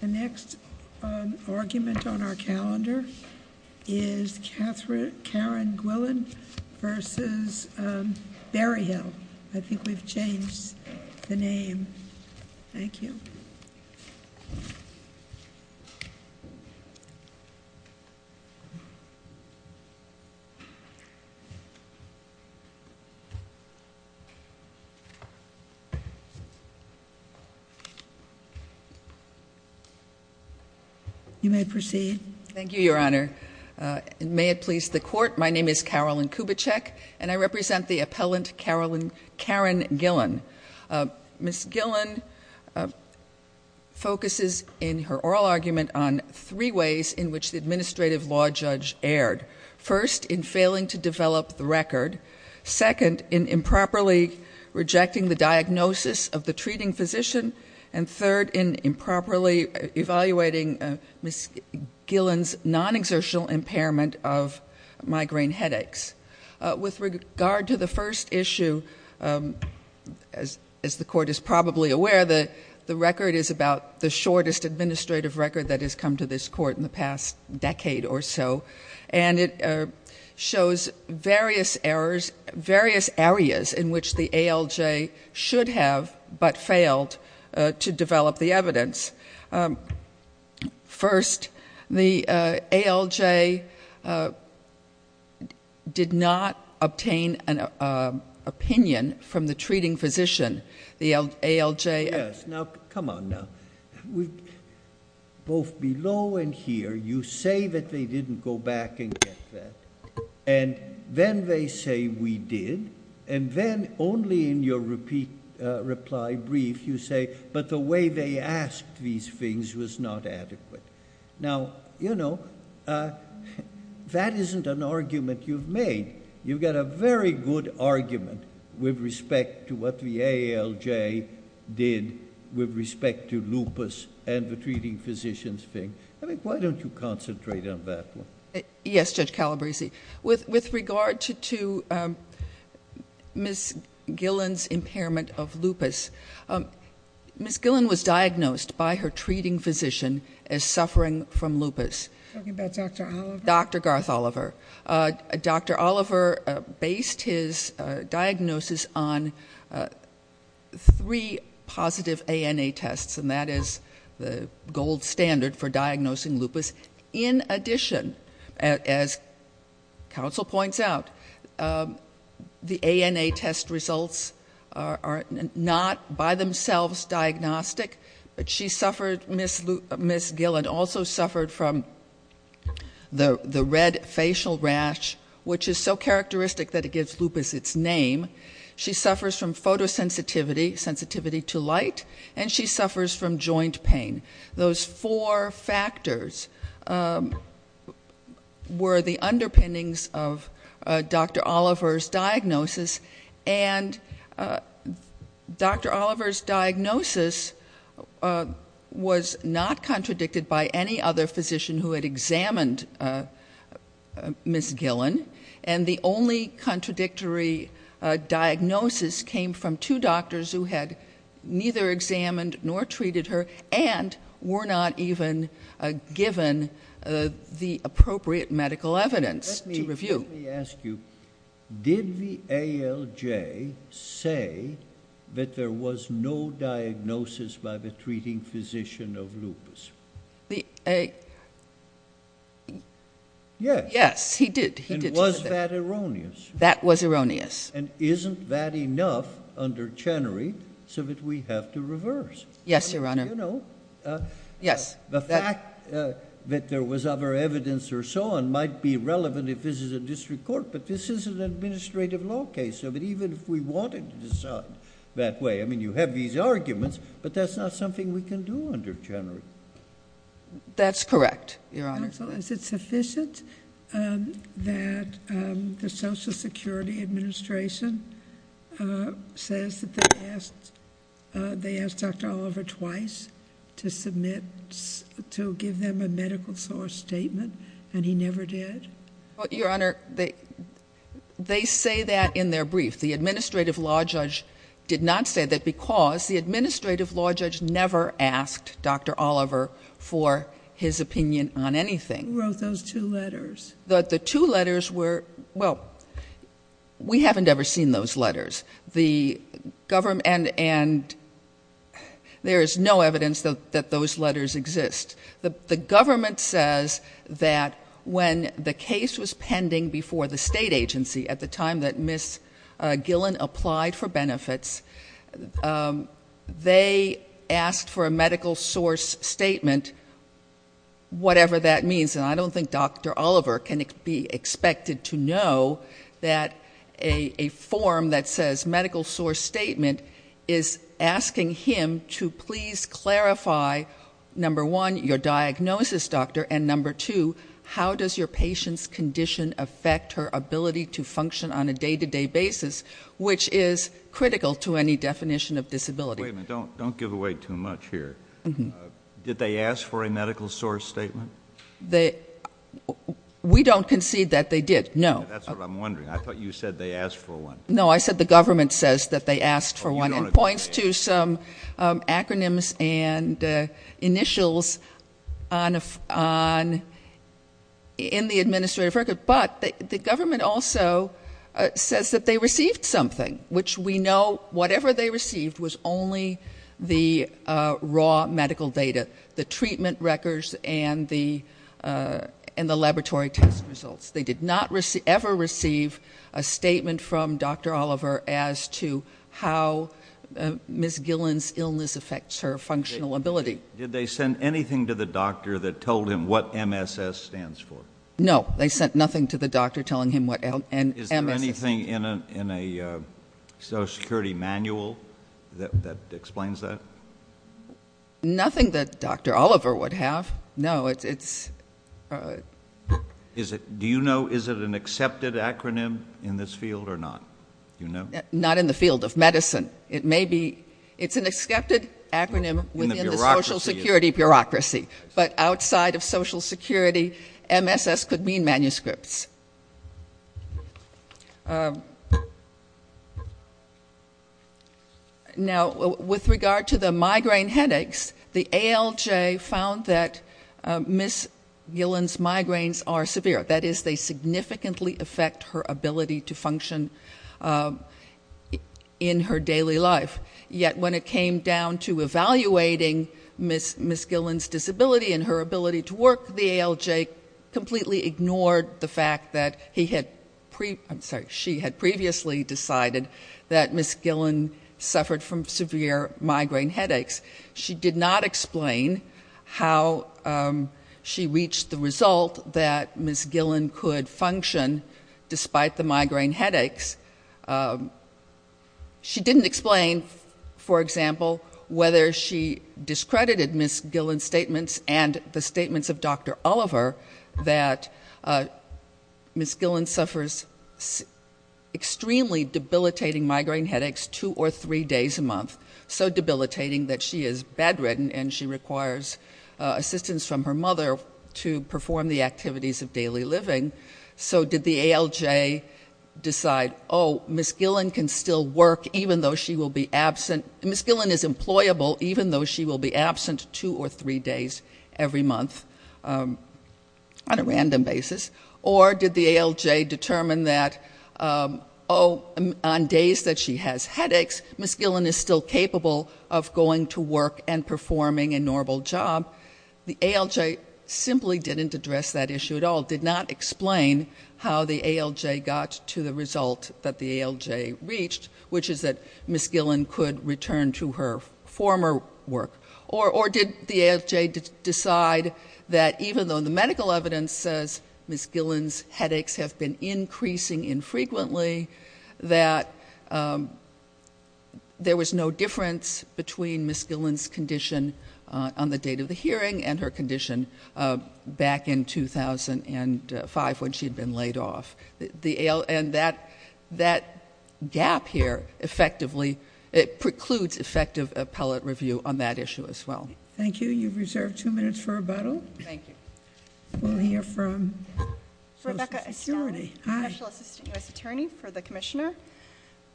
The next argument on our calendar is Karen Gwillan v. Berryhill. I think we've changed the name. Thank you. You may proceed. Thank you, Your Honor. May it please the Court, my name is Carolyn Kubitschek, and I represent the appellant Karen Gillen. Ms. Gillen focuses in her oral argument on three ways in which the administrative law judge erred. First, in failing to develop the record. Second, in improperly rejecting the diagnosis of the treating physician. And third, in improperly evaluating Ms. Gillen's non-exertional impairment of migraine headaches. With regard to the first issue, as the Court is probably aware, the record is about the shortest administrative record that has come to this Court in the past decade or so. And it shows various errors, various areas in which the ALJ should have but failed to develop the evidence. First, the ALJ did not obtain an opinion from the treating physician. The ALJ... And then they say, we did. And then, only in your reply brief, you say, but the way they asked these things was not adequate. Now, you know, that isn't an argument you've made. You've got a very good argument with respect to what the ALJ did with respect to lupus and the treating physician's thing. I mean, why don't you concentrate on that one? Yes, Judge Calabresi. With regard to Ms. Gillen's impairment of lupus, Ms. Gillen was diagnosed by her treating physician as suffering from lupus. Are you talking about Dr. Oliver? Dr. Garth Oliver. Dr. Oliver based his diagnosis on three positive ANA tests, and that is the gold standard for diagnosing lupus. In addition, as counsel points out, the ANA test results are not by themselves diagnostic. But she suffered, Ms. Gillen, also suffered from the red facial rash, which is so characteristic that it gives lupus its name. She suffers from photosensitivity, sensitivity to light, and she suffers from joint pain. Those four factors were the underpinnings of Dr. Oliver's diagnosis. And Dr. Oliver's diagnosis was not contradicted by any other physician who had examined Ms. Gillen. And the only contradictory diagnosis came from two doctors who had neither examined nor treated her and were not even given the appropriate medical evidence to review. Let me ask you, did the ALJ say that there was no diagnosis by the treating physician of lupus? Yes, he did. And was that erroneous? That was erroneous. And isn't that enough under Chenery so that we have to reverse? Yes, Your Honor. Do you know? Yes. The fact that there was other evidence or so on might be relevant if this is a district court, but this is an administrative law case. So even if we wanted to decide that way, I mean, you have these arguments, but that's not something we can do under Chenery. That's correct, Your Honor. Counsel, is it sufficient that the Social Security Administration says that they asked Dr. Oliver twice to submit, to give them a medical source statement, and he never did? Your Honor, they say that in their brief. The administrative law judge did not say that because the administrative law judge never asked Dr. Oliver for his opinion on anything. Who wrote those two letters? The two letters were, well, we haven't ever seen those letters. And there is no evidence that those letters exist. The government says that when the case was pending before the state agency at the time that Ms. Gillen applied for benefits, they asked for a medical source statement, whatever that means. And I don't think Dr. Oliver can be expected to know that a form that says medical source statement is asking him to please clarify, number one, your diagnosis, doctor, and number two, how does your patient's condition affect her ability to function on a day-to-day basis, which is critical to any definition of disability. Wait a minute. Don't give away too much here. Did they ask for a medical source statement? We don't concede that they did, no. That's what I'm wondering. I thought you said they asked for one. No, I said the government says that they asked for one and points to some acronyms and initials in the administrative record. But the government also says that they received something, which we know whatever they received was only the raw medical data, the treatment records and the laboratory test results. They did not ever receive a statement from Dr. Oliver as to how Ms. Gillen's illness affects her functional ability. Did they send anything to the doctor that told him what MSS stands for? No, they sent nothing to the doctor telling him what MSS stands for. Is there anything in a Social Security manual that explains that? Nothing that Dr. Oliver would have, no. Do you know is it an accepted acronym in this field or not? Not in the field of medicine. It's an accepted acronym within the Social Security bureaucracy, but outside of Social Security, MSS could mean manuscripts. Now, with regard to the migraine headaches, the ALJ found that Ms. Gillen's migraines are severe. That is, they significantly affect her ability to function in her daily life. Yet when it came down to evaluating Ms. Gillen's disability and her ability to work, the ALJ completely ignored the fact that she had previously decided that Ms. Gillen suffered from severe migraine headaches. She did not explain how she reached the result that Ms. Gillen could function despite the migraine headaches. She didn't explain, for example, whether she discredited Ms. Gillen's statements and the statements of Dr. Oliver that Ms. Gillen suffers extremely debilitating migraine headaches two or three days a month, so debilitating that she is bedridden and she requires assistance from her mother to perform the activities of daily living. So did the ALJ decide, oh, Ms. Gillen can still work even though she will be absent. Ms. Gillen is employable even though she will be absent two or three days every month on a random basis. Or did the ALJ determine that, oh, on days that she has headaches, Ms. Gillen is still capable of going to work and performing a normal job? The ALJ simply didn't address that issue at all. It did not explain how the ALJ got to the result that the ALJ reached, which is that Ms. Gillen could return to her former work. Or did the ALJ decide that even though the medical evidence says Ms. Gillen's headaches have been increasing infrequently, that there was no difference between Ms. Gillen's condition on the date of the hearing and her condition back in 2005 when she had been laid off? And that gap here effectively precludes effective appellate review on that issue as well. Thank you. You've reserved two minutes for rebuttal. We'll hear from Social Security. Hi. Special Assistant U.S. Attorney for the Commissioner.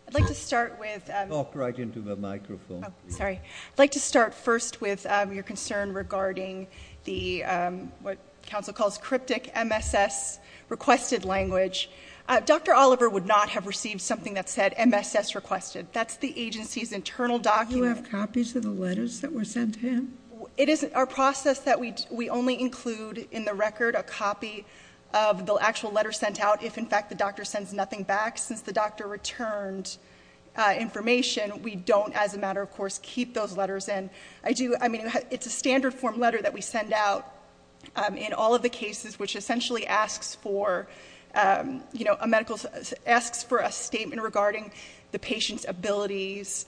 I'd like to start with- Talk right into the microphone. Oh, sorry. I'd like to start first with your concern regarding the, what counsel calls cryptic MSS requested language. Dr. Oliver would not have received something that said MSS requested. That's the agency's internal document. Do you have copies of the letters that were sent in? It is our process that we only include in the record a copy of the actual letter sent out if, in fact, the doctor sends nothing back. Since the doctor returned information, we don't, as a matter of course, keep those letters in. I do, I mean, it's a standard form letter that we send out in all of the cases, which essentially asks for, you know, a medical, asks for a statement regarding the patient's abilities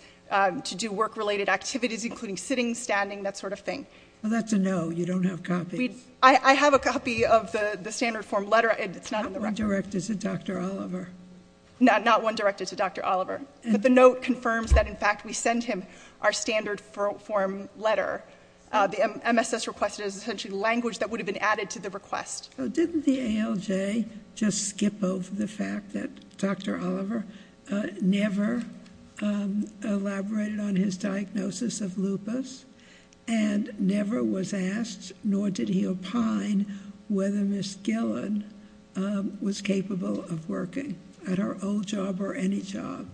to do work-related activities, including sitting, standing, that sort of thing. Well, that's a no. You don't have copies. I have a copy of the standard form letter. It's not in the record. Not one directed to Dr. Oliver. Not one directed to Dr. Oliver. But the note confirms that, in fact, we send him our standard form letter. The MSS request is essentially language that would have been added to the request. Didn't the ALJ just skip over the fact that Dr. Oliver never elaborated on his diagnosis of lupus and never was asked, nor did he opine, whether Ms. Gillen was capable of working at her old job or any job?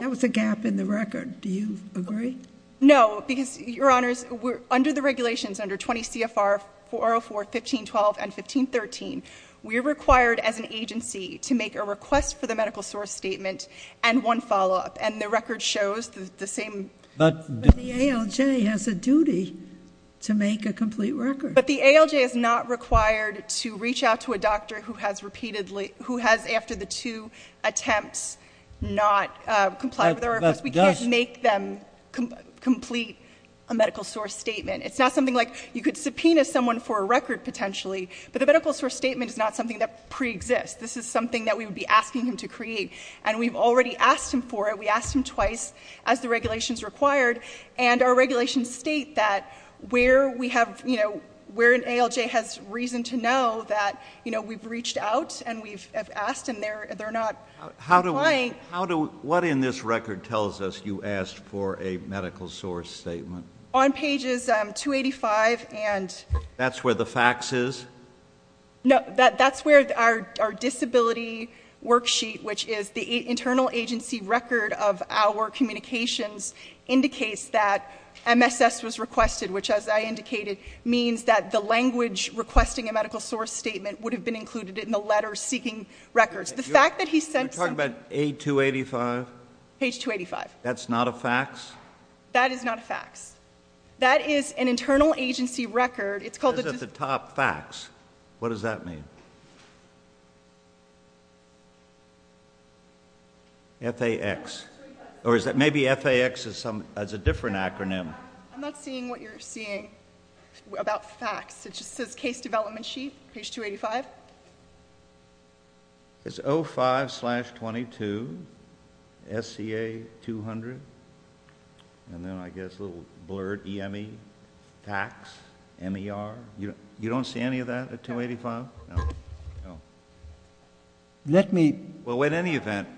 There was a gap in the record. Do you agree? No, because, Your Honors, under the regulations, under 20 CFR 404, 1512, and 1513, we're required as an agency to make a request for the medical source statement and one follow-up, and the record shows the same. But the ALJ has a duty to make a complete record. But the ALJ is not required to reach out to a doctor who has repeatedly, who has, after the two attempts, not complied with our request. We can't make them complete a medical source statement. It's not something like you could subpoena someone for a record, potentially, but the medical source statement is not something that preexists. This is something that we would be asking him to create, and we've already asked him for it. We asked him twice, as the regulations required, and our regulations state that where we have, you know, where an ALJ has reason to know that, you know, we've reached out and we've asked and they're not complying. What in this record tells us you asked for a medical source statement? On pages 285 and That's where the fax is? No, that's where our disability worksheet, which is the internal agency record of our communications, indicates that MSS was requested, which, as I indicated, means that the language requesting a medical source statement would have been included in the letter seeking records. You're talking about page 285? Page 285. That's not a fax? That is not a fax. That is an internal agency record. It says at the top, fax. What does that mean? F-A-X. Or maybe F-A-X is a different acronym. I'm not seeing what you're seeing about fax. It just says case development sheet, page 285. It's 05 slash 22, SCA 200, and then I guess a little blurred, EME, fax, MER. You don't see any of that at 285? No. Let me Well, in any event,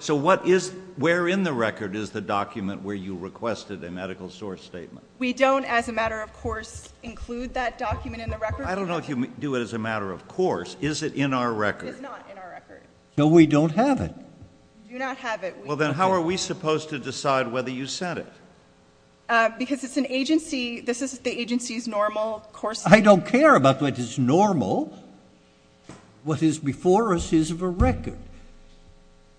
so where in the record is the document where you requested a medical source statement? We don't, as a matter of course, include that document in the record. I don't know if you do it as a matter of course. Is it in our record? It's not in our record. No, we don't have it. We do not have it. Well, then how are we supposed to decide whether you sent it? Because it's an agency. This is the agency's normal course statement. I don't care about what is normal. What is before us is the record,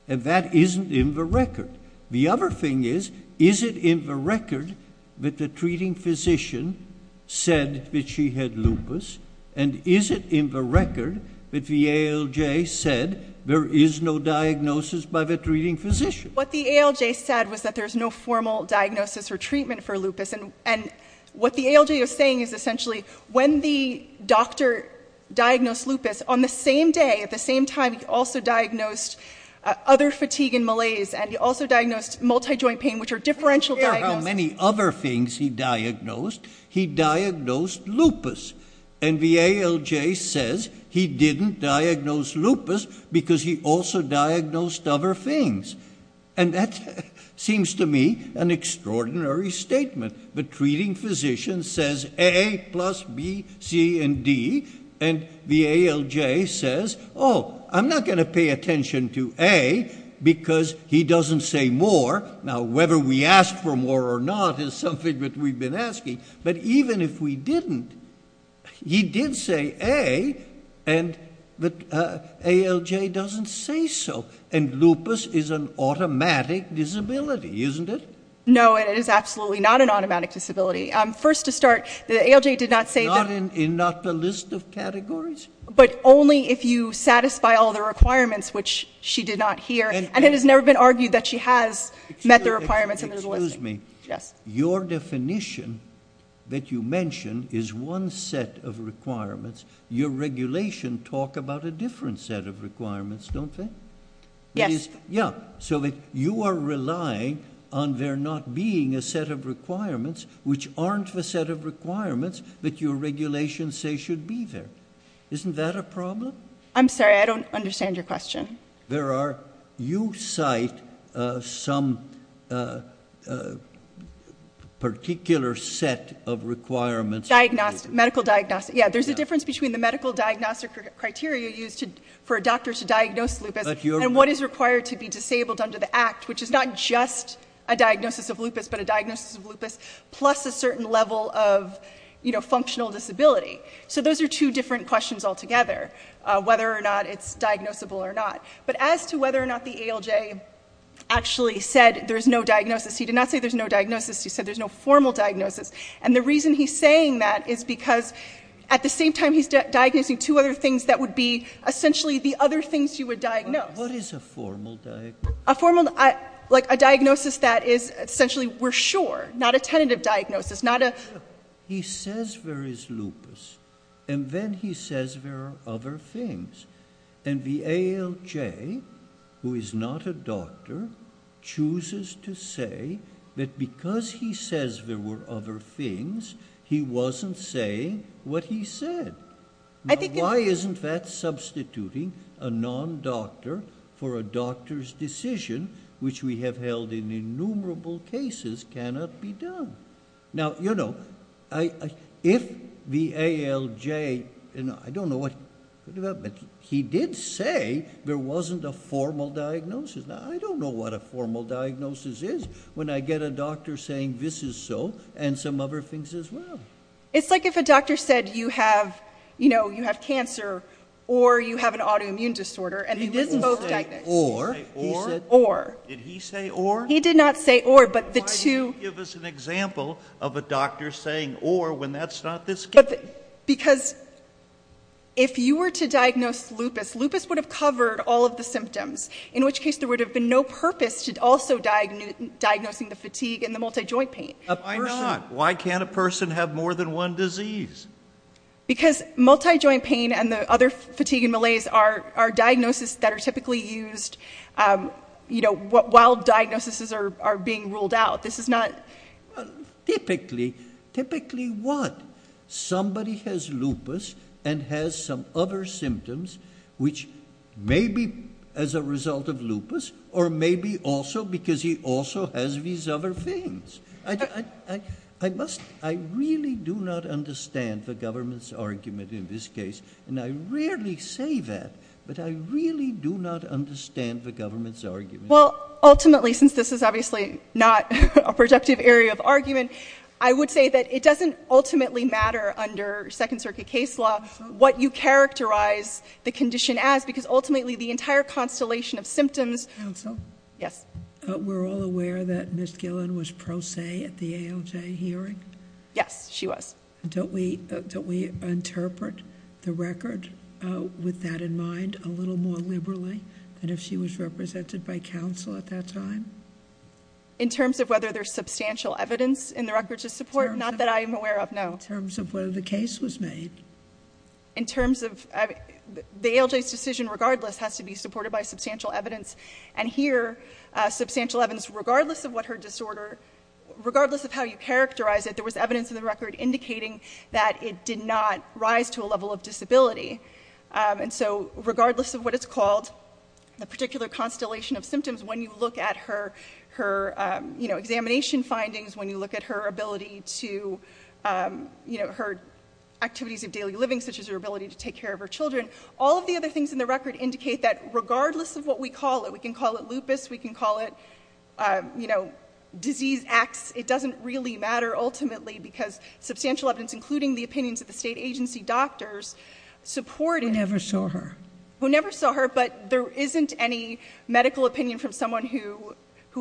and that isn't in the record. The other thing is, is it in the record that the treating physician said that she had lupus, and is it in the record that the ALJ said there is no diagnosis by the treating physician? What the ALJ said was that there's no formal diagnosis or treatment for lupus, and what the ALJ is saying is essentially when the doctor diagnosed lupus, on the same day, at the same time, he also diagnosed other fatigue and malaise, and he also diagnosed multijoint pain, which are differential diagnoses. I don't care how many other things he diagnosed. He diagnosed lupus, and the ALJ says he didn't diagnose lupus because he also diagnosed other things, and that seems to me an extraordinary statement. The treating physician says A plus B, C, and D, and the ALJ says, oh, I'm not going to pay attention to A because he doesn't say more. Now, whether we ask for more or not is something that we've been asking, but even if we didn't, he did say A, and the ALJ doesn't say so, and lupus is an automatic disability, isn't it? No, it is absolutely not an automatic disability. First to start, the ALJ did not say that. Not in the list of categories? But only if you satisfy all the requirements, which she did not hear, and it has never been argued that she has met the requirements in the listing. Excuse me. Yes. Your definition that you mentioned is one set of requirements. Your regulation talks about a different set of requirements, don't they? Yes. Yeah, so you are relying on there not being a set of requirements which aren't the set of requirements that your regulations say should be there. Isn't that a problem? I'm sorry, I don't understand your question. You cite some particular set of requirements. Diagnostic, medical diagnostic. Yeah, there's a difference between the medical diagnostic criteria used for a doctor to diagnose lupus and what is required to be disabled under the Act, which is not just a diagnosis of lupus but a diagnosis of lupus plus a certain level of functional disability. So those are two different questions altogether, whether or not it's diagnosable or not. But as to whether or not the ALJ actually said there's no diagnosis, he did not say there's no diagnosis, he said there's no formal diagnosis. And the reason he's saying that is because at the same time he's diagnosing two other things that would be essentially the other things you would diagnose. What is a formal diagnosis? Like a diagnosis that is essentially we're sure, not a tentative diagnosis. He says there is lupus, and then he says there are other things. And the ALJ, who is not a doctor, chooses to say that because he says there were other things, he wasn't saying what he said. Now, why isn't that substituting a non-doctor for a doctor's decision, which we have held in innumerable cases, cannot be done? Now, you know, if the ALJ, and I don't know what development, he did say there wasn't a formal diagnosis. Now, I don't know what a formal diagnosis is when I get a doctor saying this is so and some other things as well. It's like if a doctor said you have cancer or you have an autoimmune disorder and they were both diagnosed. He didn't say or. Or. Did he say or? He did not say or, but the two. Why didn't he give us an example of a doctor saying or when that's not the case? Because if you were to diagnose lupus, lupus would have covered all of the symptoms, in which case there would have been no purpose to also diagnosing the fatigue and the multijoint pain. Why not? Why can't a person have more than one disease? Because multijoint pain and the other fatigue and malaise are diagnoses that are typically used, you know, while diagnoses are being ruled out. This is not. Typically. Typically what? Somebody has lupus and has some other symptoms which may be as a result of lupus or maybe also because he also has these other things. I must. I really do not understand the government's argument in this case. And I rarely say that, but I really do not understand the government's argument. Well, ultimately, since this is obviously not a productive area of argument, I would say that it doesn't ultimately matter under Second Circuit case law what you characterize the condition as because ultimately the entire constellation of symptoms. Counsel? Yes. We're all aware that Ms. Gillen was pro se at the ALJ hearing? Yes, she was. Don't we interpret the record with that in mind a little more liberally than if she was represented by counsel at that time? In terms of whether there's substantial evidence in the record to support? Not that I'm aware of, no. In terms of whether the case was made. In terms of the ALJ's decision, regardless, has to be supported by substantial evidence. And here substantial evidence, regardless of what her disorder, regardless of how you characterize it, there was evidence in the record indicating that it did not rise to a level of disability. And so regardless of what it's called, the particular constellation of symptoms, when you look at her examination findings, when you look at her ability to, her activities of daily living, such as her ability to take care of her children, all of the other things in the record indicate that regardless of what we call it, we can call it lupus, we can call it disease X, it doesn't really matter ultimately because substantial evidence including the opinions of the state agency doctors support it. Who never saw her. Who never saw her, but there isn't any medical opinion from someone who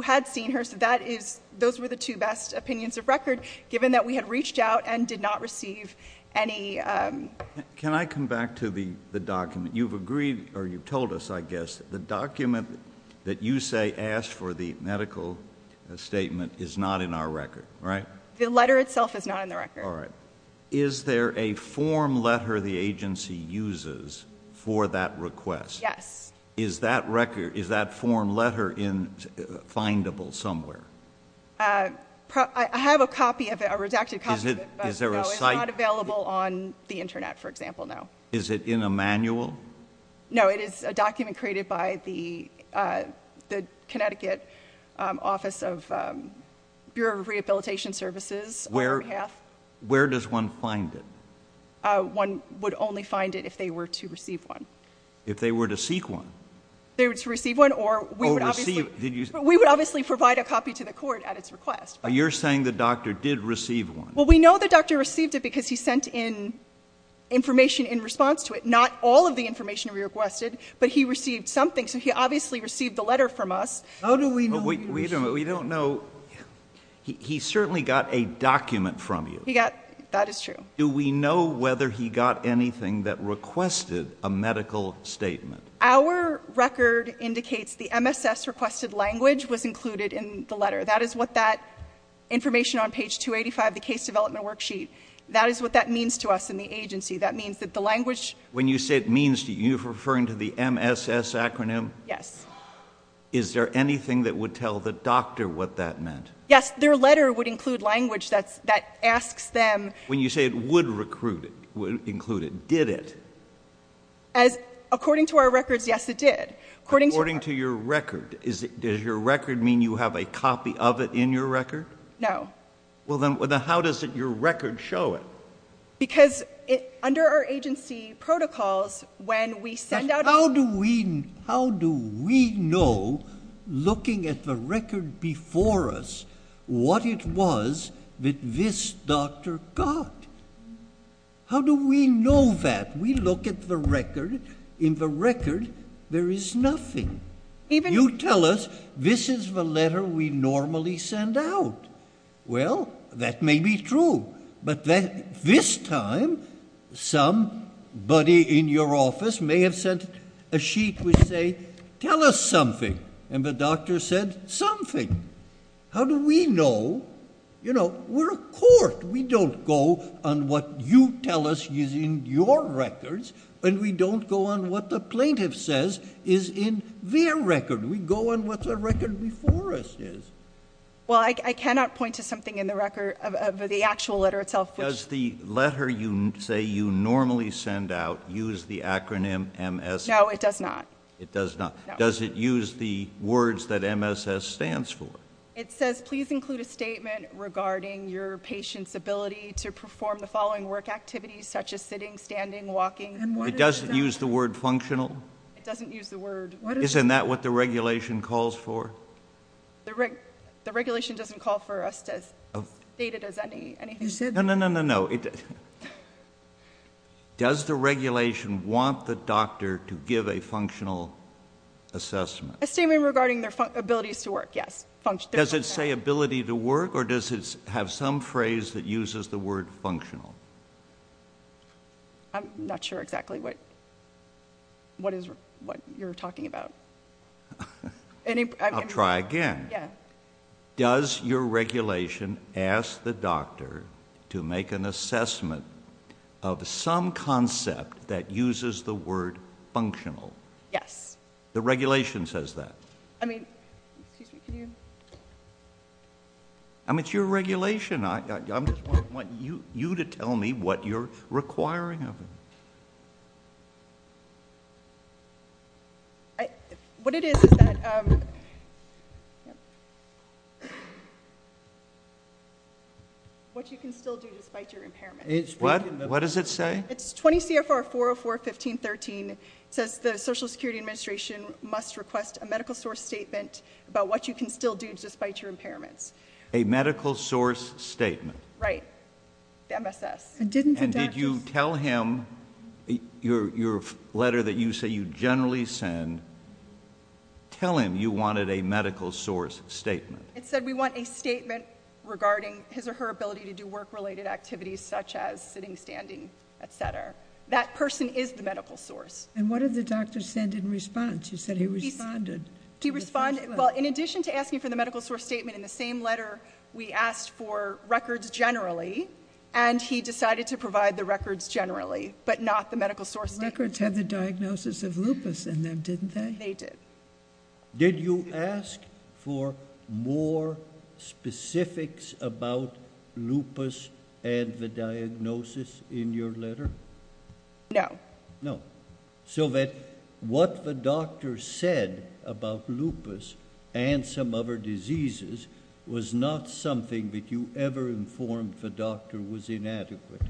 had seen her, so that is, those were the two best opinions of record, given that we had reached out and did not receive any. Can I come back to the document? You've agreed, or you've told us, I guess, the document that you say asked for the medical statement is not in our record, right? The letter itself is not in the record. All right. Is there a form letter the agency uses for that request? Yes. Is that form letter findable somewhere? I have a copy of it, a redacted copy of it. Is there a site? It's not available on the Internet, for example, no. Is it in a manual? No, it is a document created by the Connecticut Office of Bureau of Rehabilitation Services on our behalf. Where does one find it? One would only find it if they were to receive one. If they were to seek one? If they were to receive one, or we would obviously provide a copy to the court at its request. You're saying the doctor did receive one. Well, we know the doctor received it because he sent in information in response to it, not all of the information we requested, but he received something, so he obviously received the letter from us. How do we know he received it? We don't know. He certainly got a document from you. That is true. Do we know whether he got anything that requested a medical statement? Our record indicates the MSS requested language was included in the letter. That is what that information on page 285, the case development worksheet, that is what that means to us in the agency. That means that the language — When you say it means, are you referring to the MSS acronym? Yes. Is there anything that would tell the doctor what that meant? Yes, their letter would include language that asks them — When you say it would include it, did it? According to our records, yes, it did. According to your record, does your record mean you have a copy of it in your record? No. Well, then how does your record show it? Because under our agency protocols, when we send out — How do we know, looking at the record before us, what it was that this doctor got? How do we know that? We look at the record. In the record, there is nothing. You tell us this is the letter we normally send out. Well, that may be true. But this time, somebody in your office may have sent a sheet which say, tell us something. And the doctor said, something. How do we know? You know, we're a court. We don't go on what you tell us is in your records, and we don't go on what the plaintiff says is in their record. We go on what the record before us is. Well, I cannot point to something in the actual letter itself. Does the letter you say you normally send out use the acronym MSS? No, it does not. It does not. Does it use the words that MSS stands for? It says, please include a statement regarding your patient's ability to perform the following work activities, such as sitting, standing, walking. It doesn't use the word functional? It doesn't use the word — Isn't that what the regulation calls for? The regulation doesn't call for us to state it as anything. No, no, no, no, no. Does the regulation want the doctor to give a functional assessment? A statement regarding their abilities to work, yes. Does it say ability to work, or does it have some phrase that uses the word functional? I'm not sure exactly what you're talking about. I'll try again. Does your regulation ask the doctor to make an assessment of some concept that uses the word functional? Yes. The regulation says that? I mean, excuse me, can you — I mean, it's your regulation. I just want you to tell me what you're requiring of me. What it is, is that — What you can still do despite your impairment. What? What does it say? It's 20 CFR 404.15.13. It says the Social Security Administration must request a medical source statement about what you can still do despite your impairments. A medical source statement. Right. The MSS. And didn't the doctor — And did you tell him, your letter that you say you generally send, tell him you wanted a medical source statement? It said we want a statement regarding his or her ability to do work-related activities such as sitting, standing, et cetera. That person is the medical source. And what did the doctor send in response? You said he responded. He responded. Well, in addition to asking for the medical source statement in the same letter, we asked for records generally. And he decided to provide the records generally, but not the medical source statement. The records had the diagnosis of lupus in them, didn't they? They did. Did you ask for more specifics about lupus and the diagnosis in your letter? No. No. So that what the doctor said about lupus and some other diseases was not something that you ever informed the doctor was inadequate?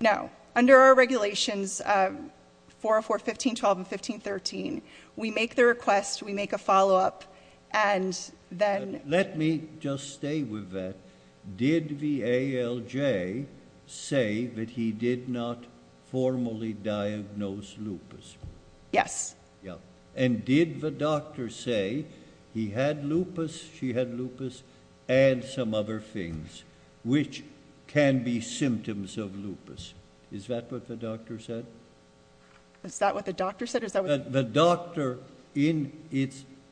No. Under our regulations, 404.15.12 and 15.13, we make the request, we make a follow-up, and then — Let me just stay with that. Did the ALJ say that he did not formally diagnose lupus? Yes. Yeah. And did the doctor say he had lupus, she had lupus, and some other things which can be symptoms of lupus? Is that what the doctor said? Is that what the doctor said? The doctor, in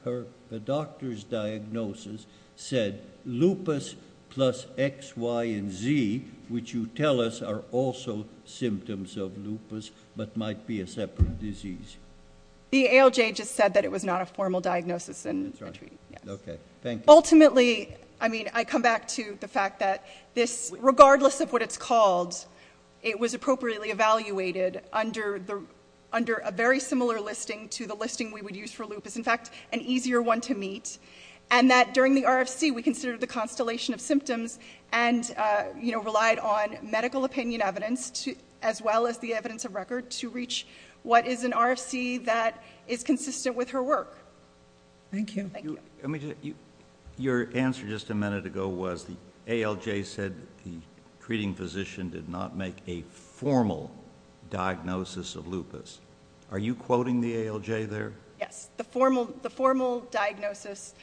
her doctor's diagnosis, said lupus plus X, Y, and Z, which you tell us are also symptoms of lupus but might be a separate disease. The ALJ just said that it was not a formal diagnosis. That's right. Okay. Thank you. Ultimately, I mean, I come back to the fact that this, regardless of what it's called, it was appropriately evaluated under a very similar listing to the listing we would use for lupus, in fact, an easier one to meet, and that during the RFC we considered the constellation of symptoms and, you know, relied on medical opinion evidence as well as the evidence of record to reach what is an RFC that is consistent with her work. Thank you. Your answer just a minute ago was the ALJ said the treating physician did not make a formal diagnosis of lupus. Are you quoting the ALJ there? Yes. The formal diagnosis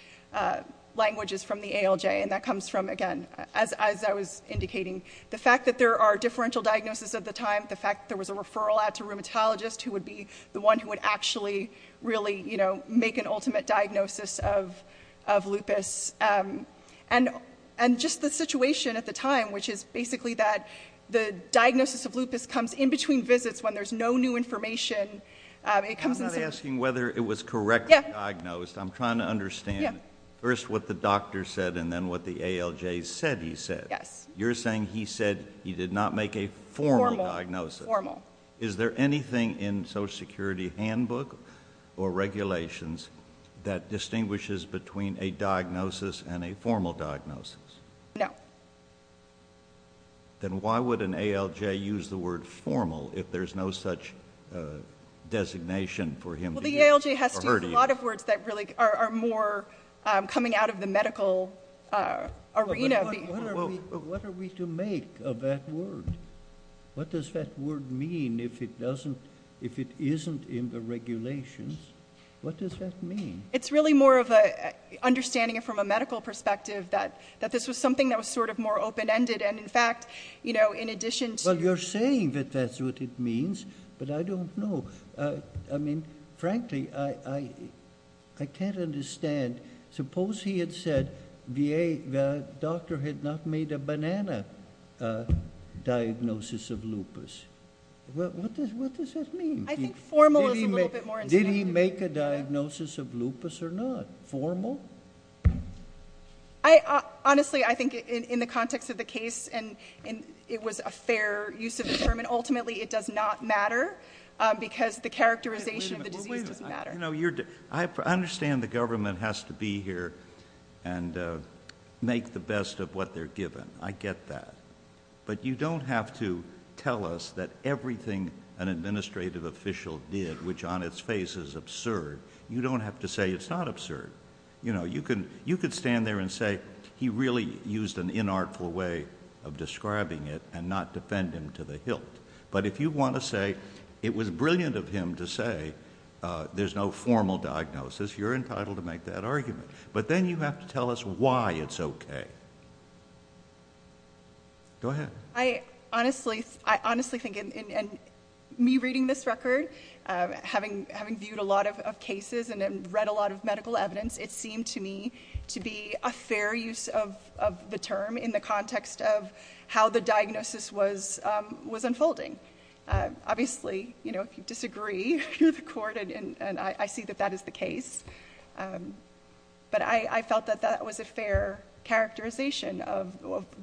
language is from the ALJ, and that comes from, again, as I was indicating, the fact that there are differential diagnoses at the time, the fact there was a referral out to a rheumatologist who would be the one who would actually really, you know, make an ultimate diagnosis of lupus, and just the situation at the time, which is basically that the diagnosis of lupus comes in between visits when there's no new information. I'm not asking whether it was correctly diagnosed. I'm trying to understand first what the doctor said and then what the ALJ said he said. Yes. You're saying he said he did not make a formal diagnosis. Formal. Is there anything in Social Security handbook or regulations that distinguishes between a diagnosis and a formal diagnosis? No. Then why would an ALJ use the word formal if there's no such designation for him or her to use? Well, the ALJ has to use a lot of words that really are more coming out of the medical arena. What are we to make of that word? What does that word mean if it isn't in the regulations? What does that mean? It's really more of an understanding from a medical perspective that this was something that was sort of more open-ended, and, in fact, you know, in addition to- Well, you're saying that that's what it means, but I don't know. I mean, frankly, I can't understand. Suppose he had said the doctor had not made a banana diagnosis of lupus. What does that mean? I think formal is a little bit more understandable. Did he make a diagnosis of lupus or not? Formal? Honestly, I think in the context of the case, and it was a fair use of the term, and ultimately it does not matter because the characterization of the disease doesn't matter. I understand the government has to be here and make the best of what they're given. I get that. But you don't have to tell us that everything an administrative official did, which on its face is absurd, you don't have to say it's not absurd. You could stand there and say he really used an inartful way of describing it and not defend him to the hilt. But if you want to say it was brilliant of him to say there's no formal diagnosis, you're entitled to make that argument. But then you have to tell us why it's okay. Go ahead. I honestly think in me reading this record, having viewed a lot of cases and read a lot of medical evidence, it seemed to me to be a fair use of the term in the context of how the diagnosis was unfolding. Obviously, if you disagree, you're the court, and I see that that is the case. But I felt that that was a fair characterization of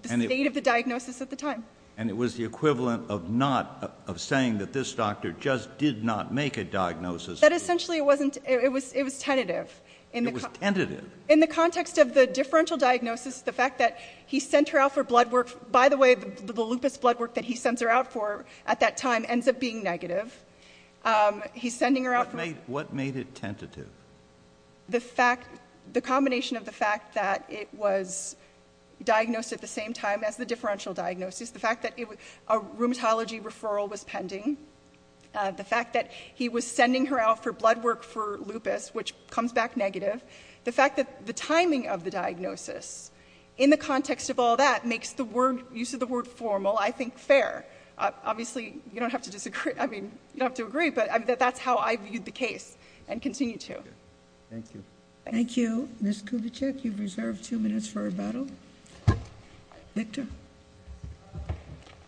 the state of the diagnosis at the time. And it was the equivalent of saying that this doctor just did not make a diagnosis. But essentially it was tentative. It was tentative? In the context of the differential diagnosis, the fact that he sent her out for blood work. By the way, the lupus blood work that he sends her out for at that time ends up being negative. What made it tentative? The combination of the fact that it was diagnosed at the same time as the differential diagnosis, the fact that a rheumatology referral was pending, the fact that he was sending her out for blood work for lupus, which comes back negative, the fact that the timing of the diagnosis in the context of all that makes the use of the word formal, I think, fair. Obviously, you don't have to disagree. I mean, you don't have to agree, but that's how I viewed the case and continue to. Thank you. Thank you. Ms. Kubitschek, you've reserved two minutes for rebuttal. Victor?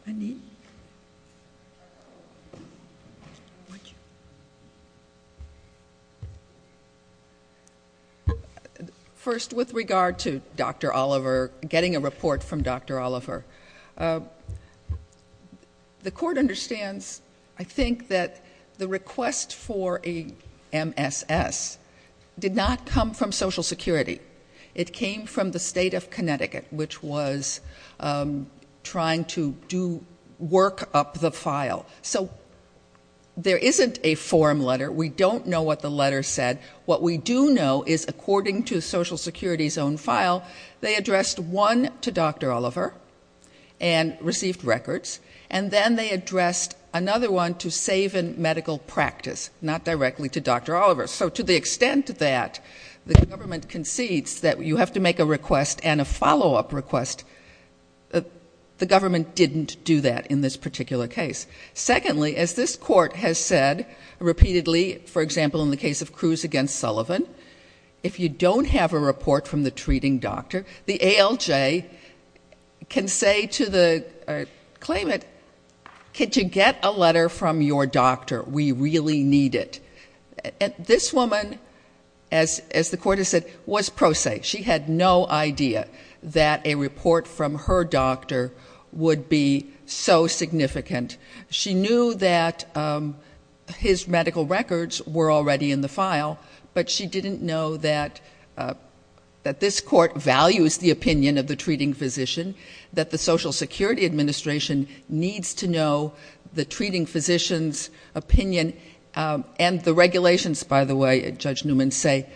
Andi? First, with regard to Dr. Oliver, getting a report from Dr. Oliver, the court understands, I think, that the request for a MSS did not come from Social Security. It came from the state of Connecticut, which was trying to do work up the file. So there isn't a form letter. We don't know what the letter said. What we do know is, according to Social Security's own file, they addressed one to Dr. Oliver and received records, and then they addressed another one to save in medical practice, not directly to Dr. Oliver. So to the extent that the government concedes that you have to make a request and a follow-up request, the government didn't do that in this particular case. Secondly, as this court has said repeatedly, for example, in the case of Cruz against Sullivan, if you don't have a report from the treating doctor, the ALJ can say to the claimant, could you get a letter from your doctor? We really need it. This woman, as the court has said, was pro se. She had no idea that a report from her doctor would be so significant. She knew that his medical records were already in the file, but she didn't know that this court values the opinion of the treating physician, that the Social Security Administration needs to know the treating physician's opinion and the regulations, by the way, Judge Newman say,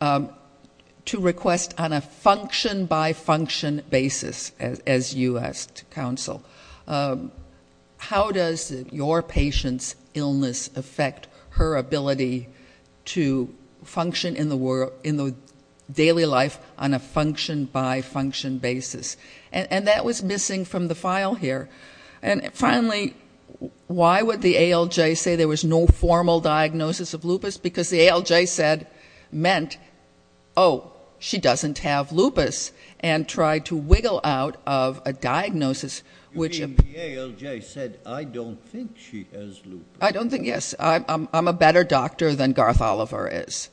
to request on a function-by-function basis, as you asked, counsel. How does your patient's illness affect her ability to function in the daily life on a function-by-function basis? And that was missing from the file here. And finally, why would the ALJ say there was no formal diagnosis of lupus? Because the ALJ said, meant, oh, she doesn't have lupus, and tried to wiggle out of a diagnosis which ---- The ALJ said, I don't think she has lupus. I don't think, yes. I'm a better doctor than Garth Oliver is.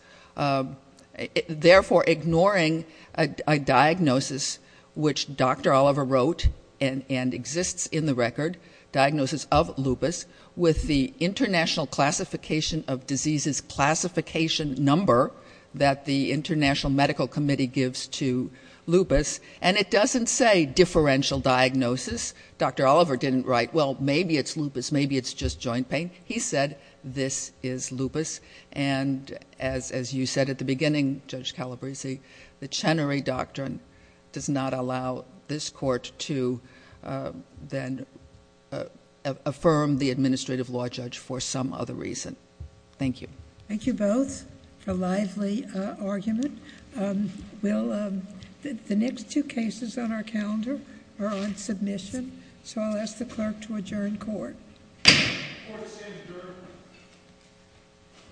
Therefore, ignoring a diagnosis which Dr. Oliver wrote and exists in the record, diagnosis of lupus with the International Classification of Diseases classification number that the International Medical Committee gives to lupus. And it doesn't say differential diagnosis. Dr. Oliver didn't write, well, maybe it's lupus, maybe it's just joint pain. He said, this is lupus. And as you said at the beginning, Judge Calabresi, the Chenery Doctrine does not allow this court to then affirm the administrative law judge for some other reason. Thank you. Thank you both for a lively argument. The next two cases on our calendar are on submission, so I'll ask the clerk to adjourn court. Court is adjourned.